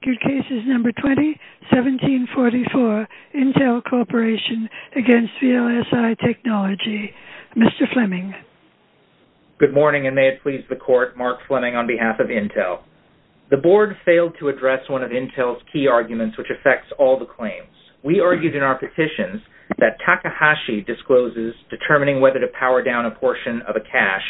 Cases No. 20, 1744, Intel Corporation v. VLSI Technology Mr. Fleming Good morning, and may it please the Court, Mark Fleming on behalf of Intel. The Board failed to address one of Intel's key arguments which affects all the claims. We argued in our petitions that Takahashi discloses determining whether to power down a portion of a cash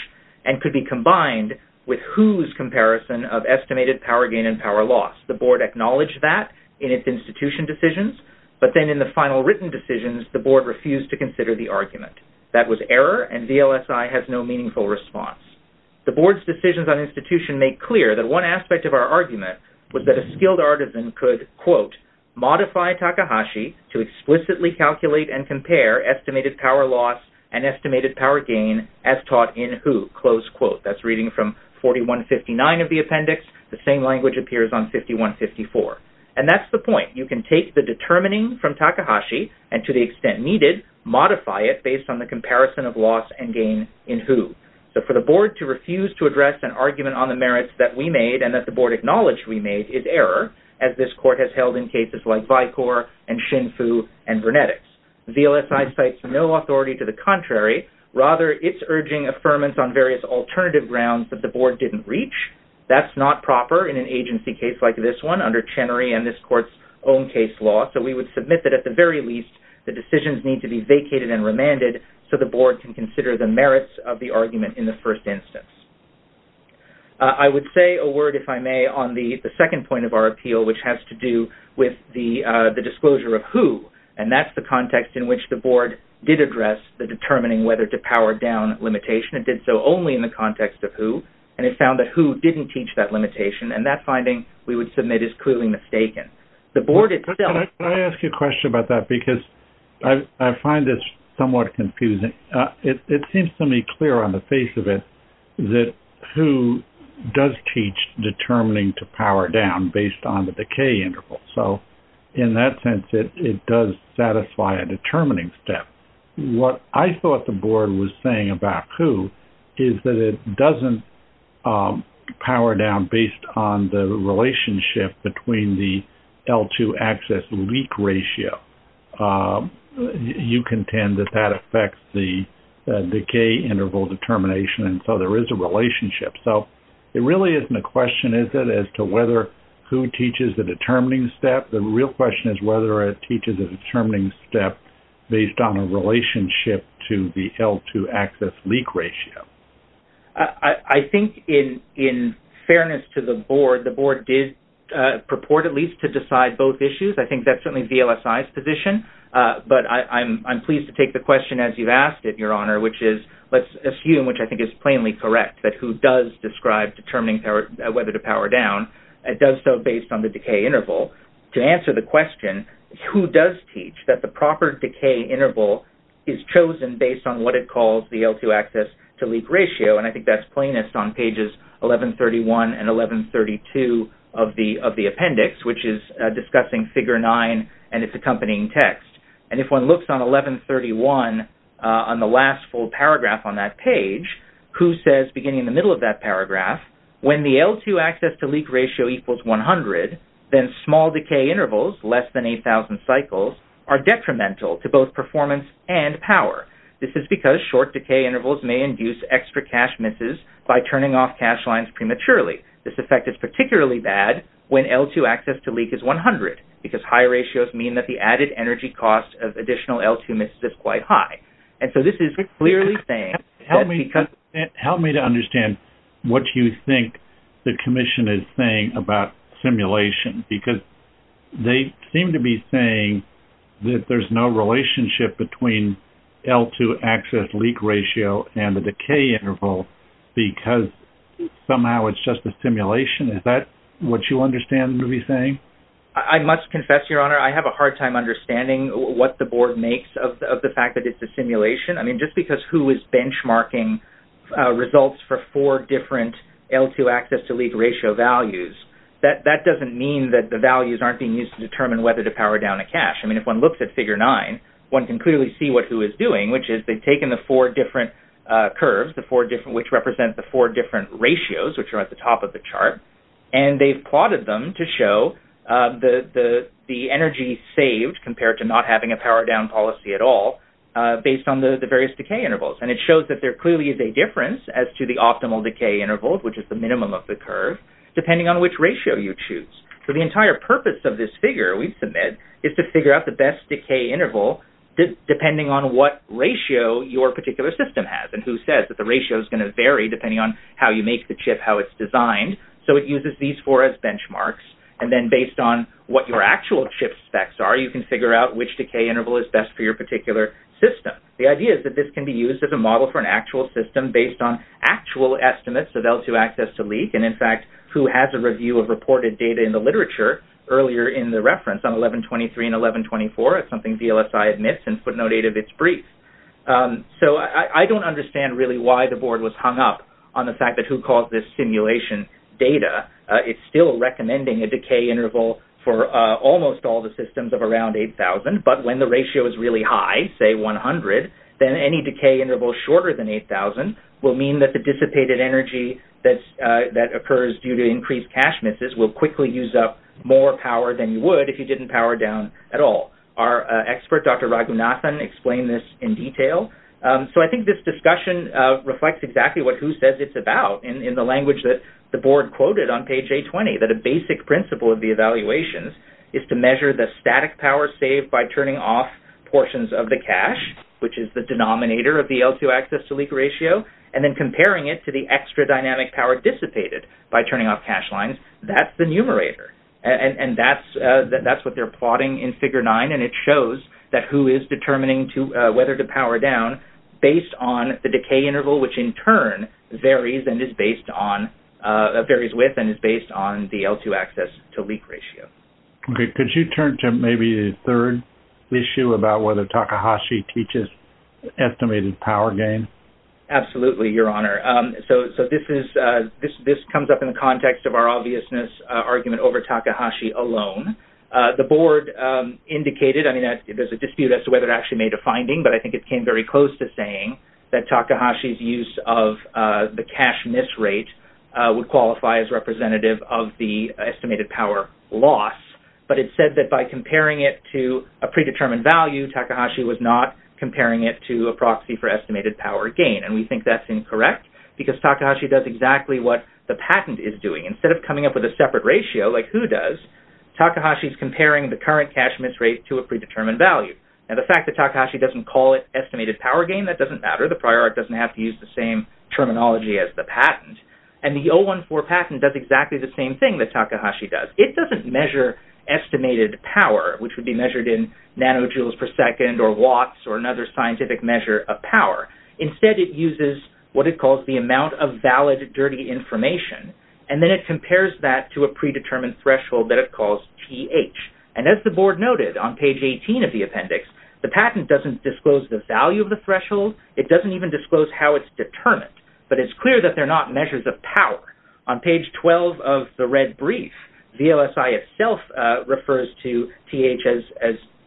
and could be combined with whose comparison of estimated power gain and power loss. The Board acknowledged that in its institution decisions, but then in the final written decisions, the Board refused to consider the argument. That was error, and VLSI has no meaningful response. The Board's decisions on institution make clear that one aspect of our argument was that a skilled artisan could, quote, modify Takahashi to explicitly calculate and compare estimated power loss and estimated power gain as taught in who, close quote. That's reading from 4159 of the appendix. The same language appears on 5154. And that's the point. You can take the determining from Takahashi and, to the extent needed, modify it based on the comparison of loss and gain in who. So for the Board to refuse to address an argument on the merits that we made and that the Board acknowledged we made is error, as this Court has held in cases like Vicor and Shinfu and Brunetics. VLSI cites no authority to the contrary. Rather, it's urging affirmance on various alternative grounds that the Board didn't reach. That's not proper in an agency case like this one under Chenery and this Court's own case law. So we would submit that, at the very least, the decisions need to be vacated and remanded so the Board can consider the merits of the argument in the first instance. I would say a word, if I may, on the second point of our appeal, which has to do with the disclosure of who. And that's the context in which the Board did address the determining whether to power down limitation. It did so only in the context of who, and it found that who didn't teach that limitation. And that finding, we would submit, is clearly mistaken. The Board itself... Can I ask you a question about that? Because I find this somewhat confusing. It seems to me clear on the face of it that who does teach determining to power down based on the decay interval. So in that sense, it does satisfy a determining step. What I thought the Board was saying about who is that it doesn't power down based on the relationship between the L2 access leak ratio. You contend that that affects the decay interval determination, and so there is a relationship. So it really isn't a question, is it, as to whether who teaches the determining step. The real question is whether it teaches a determining step based on a relationship to the L2 access leak ratio. I think in fairness to the Board, the Board did purport at least to decide both issues. I think that's certainly VLSI's position. But I'm pleased to take the question as you've asked it, Your Honor, which is, let's assume, which I think is plainly correct, that who does describe determining whether to power down, it does so based on the decay interval. To answer the question, who does teach that the proper decay interval is chosen based on what it calls the L2 access to leak ratio, and I think that's plainest on pages 1131 and 1132 of the appendix, which is discussing Figure 9 and its accompanying text. And if one looks on 1131 on the last full paragraph on that page, who says, beginning in the middle of that paragraph, when the L2 access to leak ratio equals 100, then small decay intervals, less than 8,000 cycles, are detrimental to both performance and power. This is because short decay intervals may induce extra cash misses by turning off cash lines prematurely. This effect is particularly bad when L2 access to leak is 100, because high ratios mean that the added energy cost of additional L2 misses is quite high. And so this is clearly saying... Help me to understand what you think the commission is saying about simulation, because they seem to be saying that there's no relationship between L2 access leak ratio and the decay interval, because somehow it's just a simulation. Is that what you understand to be saying? I must confess, Your Honor, I have a hard time understanding what the board makes of the fact that it's a simulation. I mean, just because who is benchmarking results for four different L2 access to leak ratio values, that doesn't mean that the values aren't being used to determine whether to power down a cash. I mean, if one looks at Figure 9, one can clearly see what who is doing, which is they've taken the four different curves, which represent the four different ratios, which are at the top of the chart, and they've plotted them to show the energy saved compared to not having a power down policy at all, based on the various decay intervals. And it shows that there clearly is a difference as to the optimal decay interval, which is the minimum of the curve, depending on which ratio you choose. So the entire purpose of this figure we've submitted is to figure out the best decay interval, depending on what ratio your particular system has, and who says that the ratio is going to vary depending on how you make the chip, how it's designed. So it uses these four as benchmarks, and then based on what your actual chip specs are, you can figure out which decay interval is best for your particular system. The idea is that this can be used as a model for an actual system based on actual estimates of L2 access to leak, and in fact, who has a review of reported data in the literature earlier in the reference on 1123 and 1124, as something DLSI admits in footnote 8 of its brief. So I don't understand really why the board was hung up on the fact that who calls this simulation data. It's still recommending a decay interval for almost all the systems of around 8,000, but when the ratio is really high, say 100, then any decay interval shorter than 8,000 will mean that the dissipated energy that occurs due to increased cache misses will quickly use up more power than you would if you didn't power down at all. Our expert, Dr. Raghunathan, explained this in detail. So I think this discussion reflects exactly what who says it's about in the language that the board quoted on page A20, that a basic principle of the evaluations is to measure the static power saved by turning off portions of the cache, which is the denominator of the L2 access to leak ratio, and then comparing it to the extra dynamic power dissipated by turning off cache lines. That's the numerator, and that's what they're plotting in figure 9, and it shows that who is determining whether to power down based on the decay interval, which in turn varies with and is based on the L2 access to leak ratio. Okay. Could you turn to maybe the third issue about whether Takahashi teaches estimated power gain? Absolutely, Your Honor. So this comes up in the context of our obviousness argument over Takahashi alone. The board indicated, I mean, there's a dispute as to whether it actually made a finding, but I think it came very close to saying that Takahashi's use of the cache miss rate would qualify as representative of the estimated power loss, but it said that by comparing it to a predetermined value, Takahashi was not comparing it to a proxy for estimated power gain, and we think that's incorrect because Takahashi does exactly what the patent is doing. Instead of coming up with a separate ratio, like who does, Takahashi's comparing the current cache miss rate to a predetermined value. Now the fact that Takahashi doesn't call it estimated power gain, that doesn't matter. The prior art doesn't have to use the same terminology as the patent, and the 014 patent does exactly the same thing that Takahashi does. It doesn't measure estimated power, which would be measured in nanojoules per second or watts or another scientific measure of power. Instead, it uses what it calls the amount of valid dirty information, and then it compares that to a predetermined threshold that it calls th, and as the board noted on page 18 of the appendix, the patent doesn't disclose the value of the threshold. It doesn't even disclose how it's determined, but it's clear that they're not measures of power. On page 12 of the red brief, VLSI itself refers to th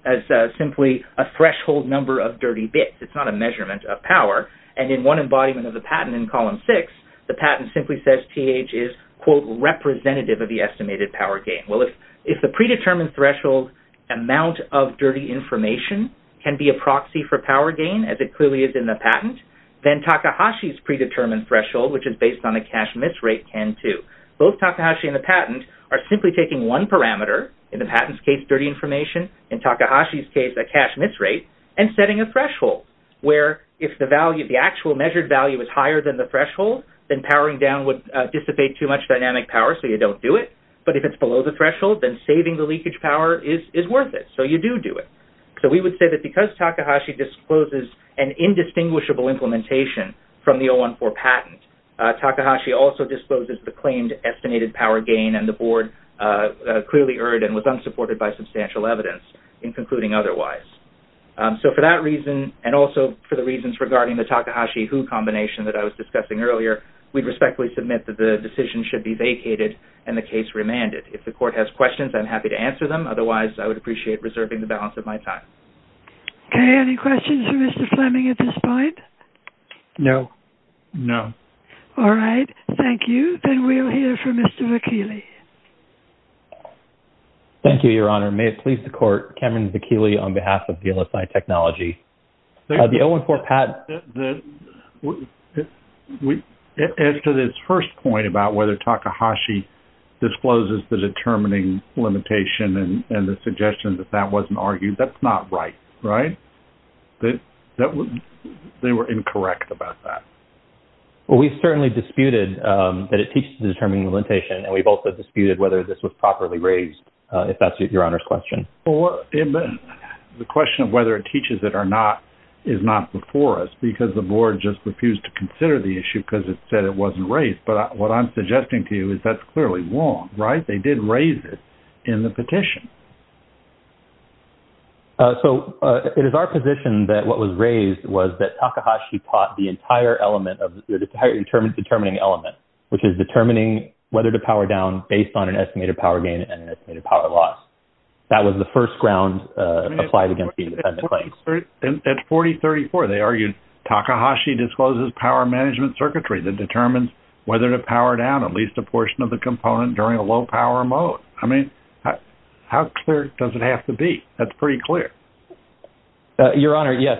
as simply a threshold number of dirty bits. It's not a measurement of estimated power gain. Well, if the predetermined threshold amount of dirty information can be a proxy for power gain, as it clearly is in the patent, then Takahashi's predetermined threshold, which is based on a cache miss rate, can too. Both Takahashi and the patent are simply taking one parameter, in the patent's case dirty information, in Takahashi's case a cache miss rate, and setting a threshold where if the actual measured value is higher than the threshold, then powering down would dissipate too much dynamic power, so you don't do it, but if it's below the threshold, then saving the leakage power is worth it, so you do do it. So we would say that because Takahashi discloses an indistinguishable implementation from the 014 patent, Takahashi also discloses the claimed estimated power gain, and the board clearly erred and was unsupported by substantial evidence in concluding otherwise. So for that reason, and also for the reasons regarding the Takahashi-Hu combination that I was discussing earlier, we respectfully submit that the decision should be vacated and the case remanded. If the court has questions, I'm happy to answer them, otherwise I would appreciate reserving the balance of my time. Okay, any questions for Mr. Fleming at this point? No. No. All right, thank you. Then we'll hear from Mr. Vecchielli. Thank you, Your Honor. May it please the court, Cameron Vecchielli on behalf of DLSI Technology. As to this first point about whether Takahashi discloses the determining limitation and the suggestion that that wasn't argued, that's not right, right? They were incorrect about that. Well, we've certainly disputed that it teaches the determining limitation, and we've also disputed whether this was properly raised, if that's your Honor's question. Well, the question of whether it teaches it or not is not before us because the board just refused to consider the issue because it said it wasn't raised. But what I'm suggesting to you is that's clearly wrong, right? They did raise it in the petition. So it is our position that what was raised was that Takahashi taught the entire element of determining element, which is determining whether to power down based on estimated power loss. That was the first ground applied against the independent claim. At 4034, they argued Takahashi discloses power management circuitry that determines whether to power down at least a portion of the component during a low power mode. I mean, how clear does it have to be? That's pretty clear. Your Honor, yes.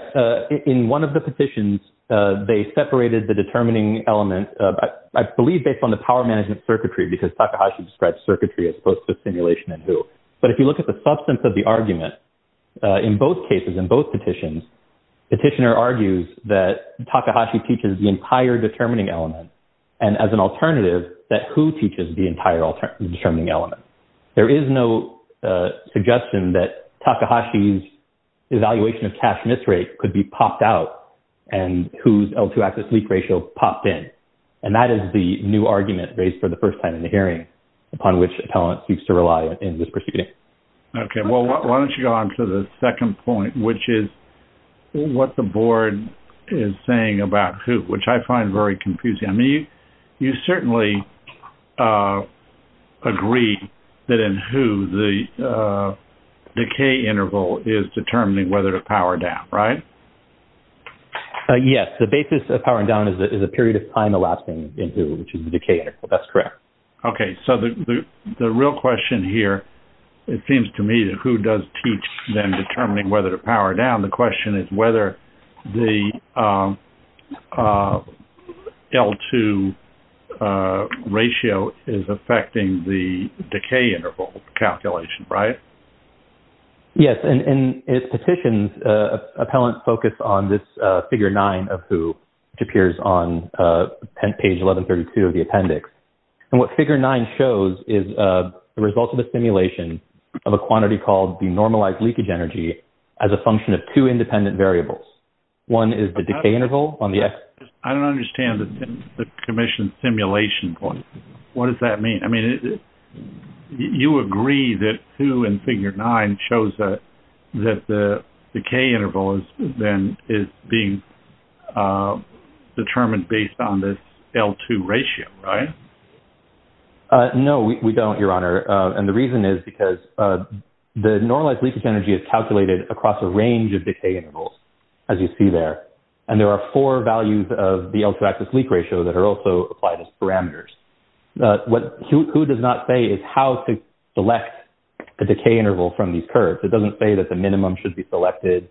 In one of the petitions, they separated the determining element, I believe based on the power management circuitry, because Takahashi describes circuitry as opposed to simulation and who. But if you look at the substance of the argument, in both cases, in both petitions, petitioner argues that Takahashi teaches the entire determining element, and as an alternative, that who teaches the entire alternative determining element. There is no suggestion that Takahashi's evaluation of cash misrate could be popped out and whose L2 axis leak ratio popped in. And that is the new argument raised for the first time in the hearing, upon which appellant seeks to rely in this proceeding. Okay. Well, why don't you go on to the second point, which is what the board is saying about who, which I find very confusing. I mean, you certainly agree that in who the decay interval is determining whether to power down, right? Yes. The basis of powering down is a period of time, the last thing in who, which is the decay interval. That's correct. Okay. So the real question here, it seems to me that who does teach then determining whether to power down, the question is whether the L2 ratio is affecting the decay interval calculation, right? Yes. And in petitions, appellant focused on this figure nine of who, which appears on page 1132 of the appendix. And what figure nine shows is the results of the simulation of a quantity called the normalized leakage energy as a function of two independent variables. One is the decay interval on the X. I don't understand the commission simulation point. What does that mean? I mean, you agree that who in figure nine shows that the decay interval is being determined based on this L2 ratio, right? No, we don't, Your Honor. And the reason is because the normalized leakage energy is calculated across a range of decay intervals, as you see there. And there are four values of the L2 axis leak ratio that are also applied as parameters. What who does not say is how to select the decay interval from these curves. It doesn't say that the minimum should be selected.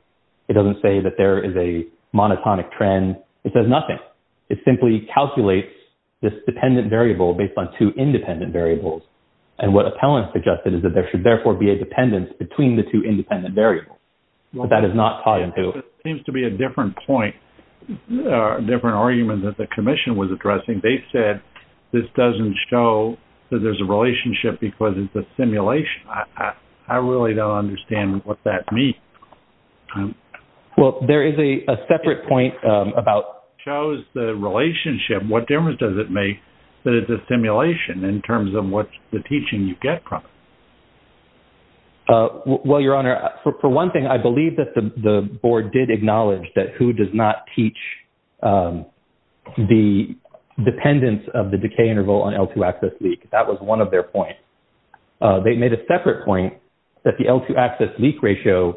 It doesn't say that there is a monotonic trend. It says nothing. It simply calculates this dependent variable based on two independent variables. And what appellant suggested is that there should therefore be a dependence between the two independent variables. But that is not taught in who. It seems to be a different point, a different argument that the commission was addressing. They said this doesn't show that there's a relationship because it's a simulation. I really don't understand what that means. Well, there is a separate point about shows the relationship. What difference does it make that it's a simulation in terms of what the teaching you get from it? Well, Your Honor, for one thing, I believe that the board did not change the dependence of the decay interval on L2 axis leak. That was one of their points. They made a separate point that the L2 axis leak ratio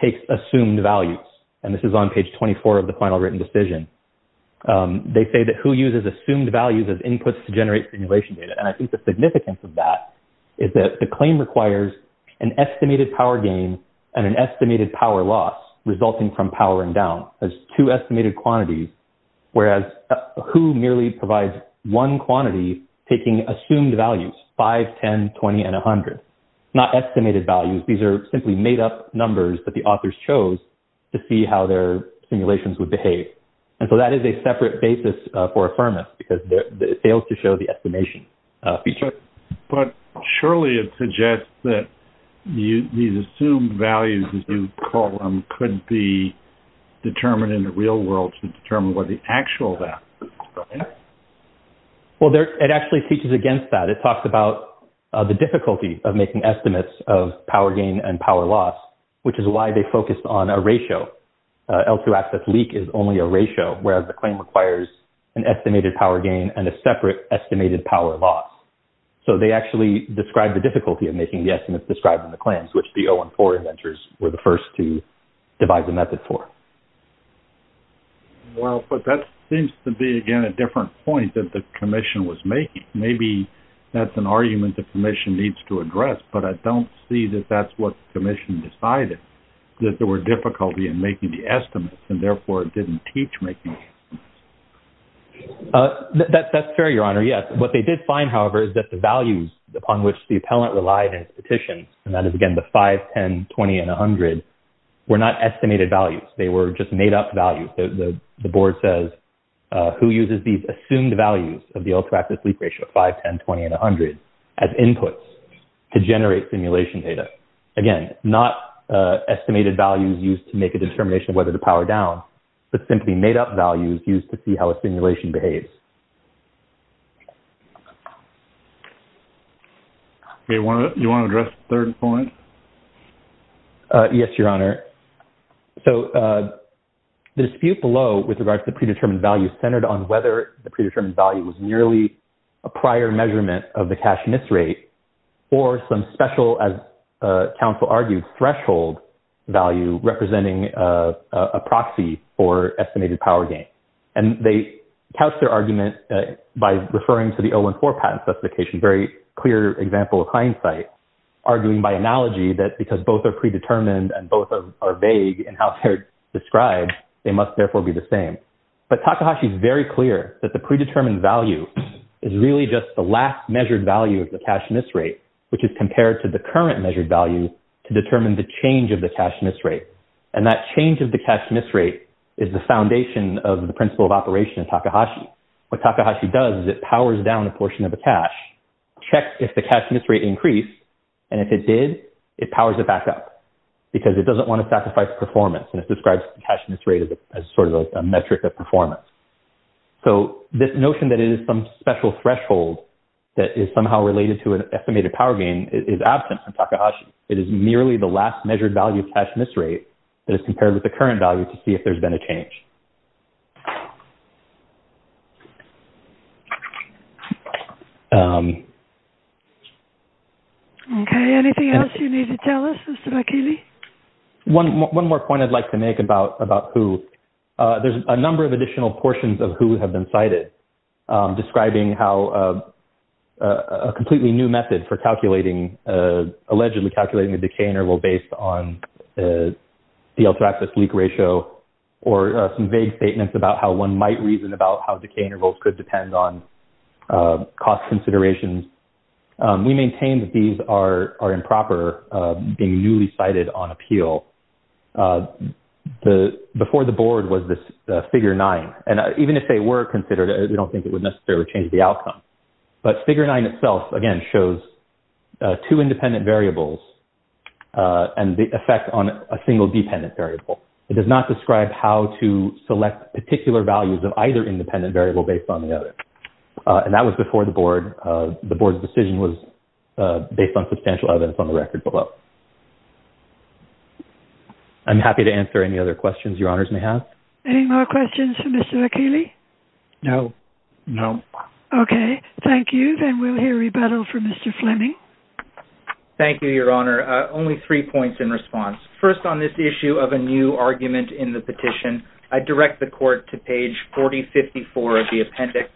takes assumed values. And this is on page 24 of the final written decision. They say that who uses assumed values as inputs to generate simulation data. And I think the significance of that is that the claim requires an estimated power gain and an estimated power loss resulting from powering down as two estimated quantities, whereas who merely provides one quantity taking assumed values, 5, 10, 20, and 100. Not estimated values. These are simply made up numbers that the authors chose to see how their simulations would behave. And so that is a separate basis for affirmance because it fails to show the estimation feature. But surely it suggests that these assumed values, as you call them, could be determined in the real world to determine what the actual value is, right? Well, it actually teaches against that. It talks about the difficulty of making estimates of power gain and power loss, which is why they focused on a ratio. L2 axis leak is only a ratio, whereas the claim requires an estimated power gain and a separate estimated power loss. So they actually describe the difficulty of making the estimates described in the claims, which the 0 and 4 inventors were the first to divide the method for. Well, but that seems to be, again, a different point that the commission was making. Maybe that's an argument the commission needs to address, but I don't see that that's what the commission decided, that there were difficulty in making the estimates and therefore it didn't teach. That's fair, Your Honor, yes. What they did find, however, is that the values upon which the appellant relied in his petition, and that is, again, the 5, 10, 20, and 100, were not estimated values. They were just made up values. The board says, who uses these assumed values of the L2 axis leak ratio of 5, 10, 20, and 100 as inputs to generate simulation data? Again, not estimated values used to make a determination of whether to be made up values used to see how a simulation behaves. You want to address the third point? Yes, Your Honor. So the dispute below with regards to the predetermined value centered on whether the predetermined value was nearly a prior measurement of the cash miss rate or some special, as counsel argued, threshold value representing a proxy for estimated power gain. And they couched their argument by referring to the 014 patent specification, very clear example of hindsight, arguing by analogy that because both are predetermined and both are vague in how they're described, they must therefore be the same. But Takahashi is very clear that the predetermined value is really just the last measured value of the cash miss rate, which is compared to the current measured value to determine the change of the cash miss rate. And that change of the cash miss rate is the foundation of the principle of operation of Takahashi. What Takahashi does is it powers down a portion of the cash, checks if the cash miss rate increased, and if it did, it powers it back up because it doesn't want to sacrifice performance. And it describes the cash miss rate as sort of a metric of performance. So this notion that it is some special threshold that is somehow related to an estimated power gain is absent from Takahashi. It is merely the last measured value of cash miss rate that is compared with the current value to see if there's been a change. Okay. Anything else you need to tell us, Mr. Vakili? One more point I'd like to make about who. There's a number of additional portions of describing how a completely new method for calculating, allegedly calculating, the decay interval based on the DL2 axis leak ratio or some vague statements about how one might reason about how decay intervals could depend on cost considerations. We maintain that these are improper, being newly cited on appeal. Before the board was this figure nine. And even if they were considered, we don't think it would necessarily change the outcome. But figure nine itself, again, shows two independent variables and the effect on a single dependent variable. It does not describe how to select particular values of either independent variable based on the other. And that was before the board. The board's decision was based on substantial evidence on the record below. I'm happy to answer any other questions your honors may have. Any more questions for Mr. Vakili? No. No. Okay. Thank you. Then we'll hear rebuttal from Mr. Fleming. Thank you, your honor. Only three points in response. First on this issue of a new argument in the petition, I direct the court to page 4054 of the appendix.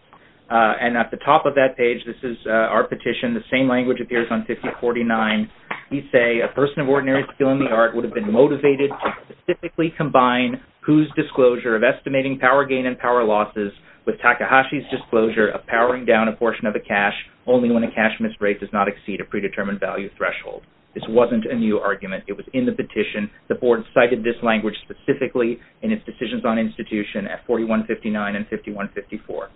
And at the top of that page, this is our petition. The same language appears on 5049. We say a person of ordinary skill in the of estimating power gain and power losses with Takahashi's disclosure of powering down a portion of the cash only when a cash miss rate does not exceed a predetermined value threshold. This wasn't a new argument. It was in the petition. The board cited this language specifically in its decisions on institution at 4159 and 5154.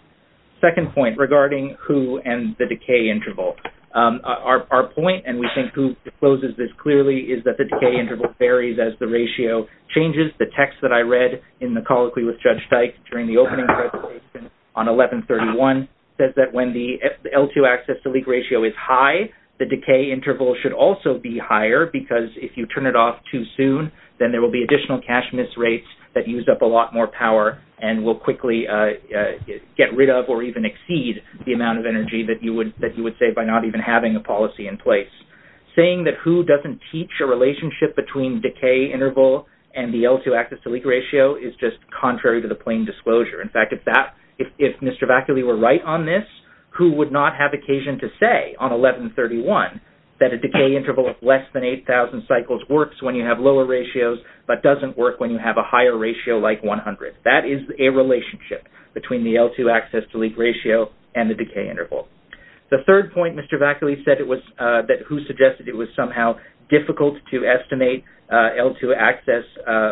Second point regarding who and the decay interval. Our point, and we think who discloses this clearly, is that the decay interval varies as the ratio changes. The text that I read in the colloquy with Judge Dyke during the opening presentation on 1131 says that when the L2 access to leak ratio is high, the decay interval should also be higher because if you turn it off too soon, then there will be additional cash miss rates that use up a lot more power and will quickly get rid of or even exceed the amount of energy that you would say by not even having a policy in place. Saying that who doesn't teach a relationship between decay interval and the L2 access to leak ratio is just contrary to the plain disclosure. In fact, if Mr. Vacula were right on this, who would not have occasion to say on 1131 that a decay interval of less than 8,000 cycles works when you have lower ratios but doesn't work when you have a higher ratio like 100? That is a relationship between the L2 access to leak ratio and the decay interval. The third point, Mr. Vacula said it was that to estimate L2 access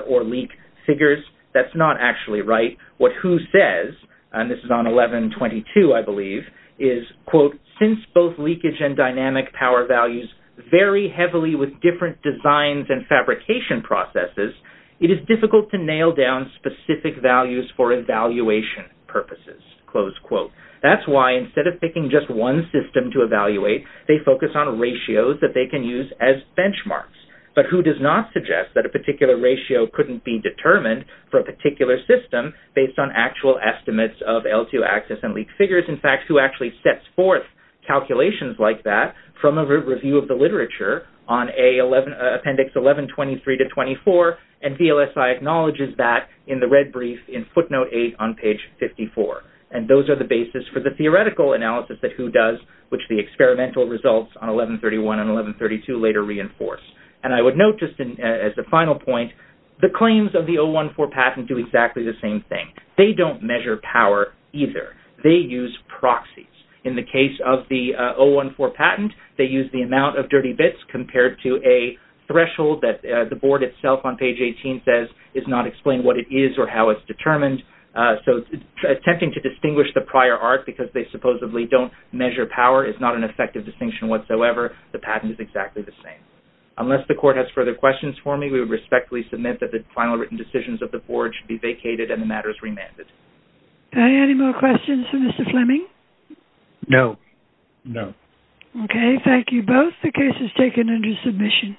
or leak figures. That's not actually right. What WHO says, and this is on 1122, I believe, is, quote, since both leakage and dynamic power values vary heavily with different designs and fabrication processes, it is difficult to nail down specific values for evaluation purposes, close quote. That's why instead of picking just one system to evaluate, they focus on ratios that they can use as benchmarks. But WHO does not suggest that a particular ratio couldn't be determined for a particular system based on actual estimates of L2 access and leak figures. In fact, WHO actually sets forth calculations like that from a review of the literature on appendix 1123 to 24, and DLSI acknowledges that in the red brief in footnote 8 on page 54. And those are the basis for the theoretical analysis that WHO does, which the experimental results on 1131 and 1132 later reinforce. And I would note just as a final point, the claims of the 014 patent do exactly the same thing. They don't measure power either. They use proxies. In the case of the 014 patent, they use the amount of dirty bits compared to a threshold that the board itself on page 18 says is not explained what it is or how it's determined. So attempting to distinguish the prior art because they supposedly don't measure power is not an effective distinction whatsoever. The patent is exactly the same. Unless the court has further questions for me, we would respectfully submit that the final written decisions of the board should be vacated and the matters remanded. Any more questions for Mr. Fleming? No. No. Okay. Thank you both. The case is taken under submission.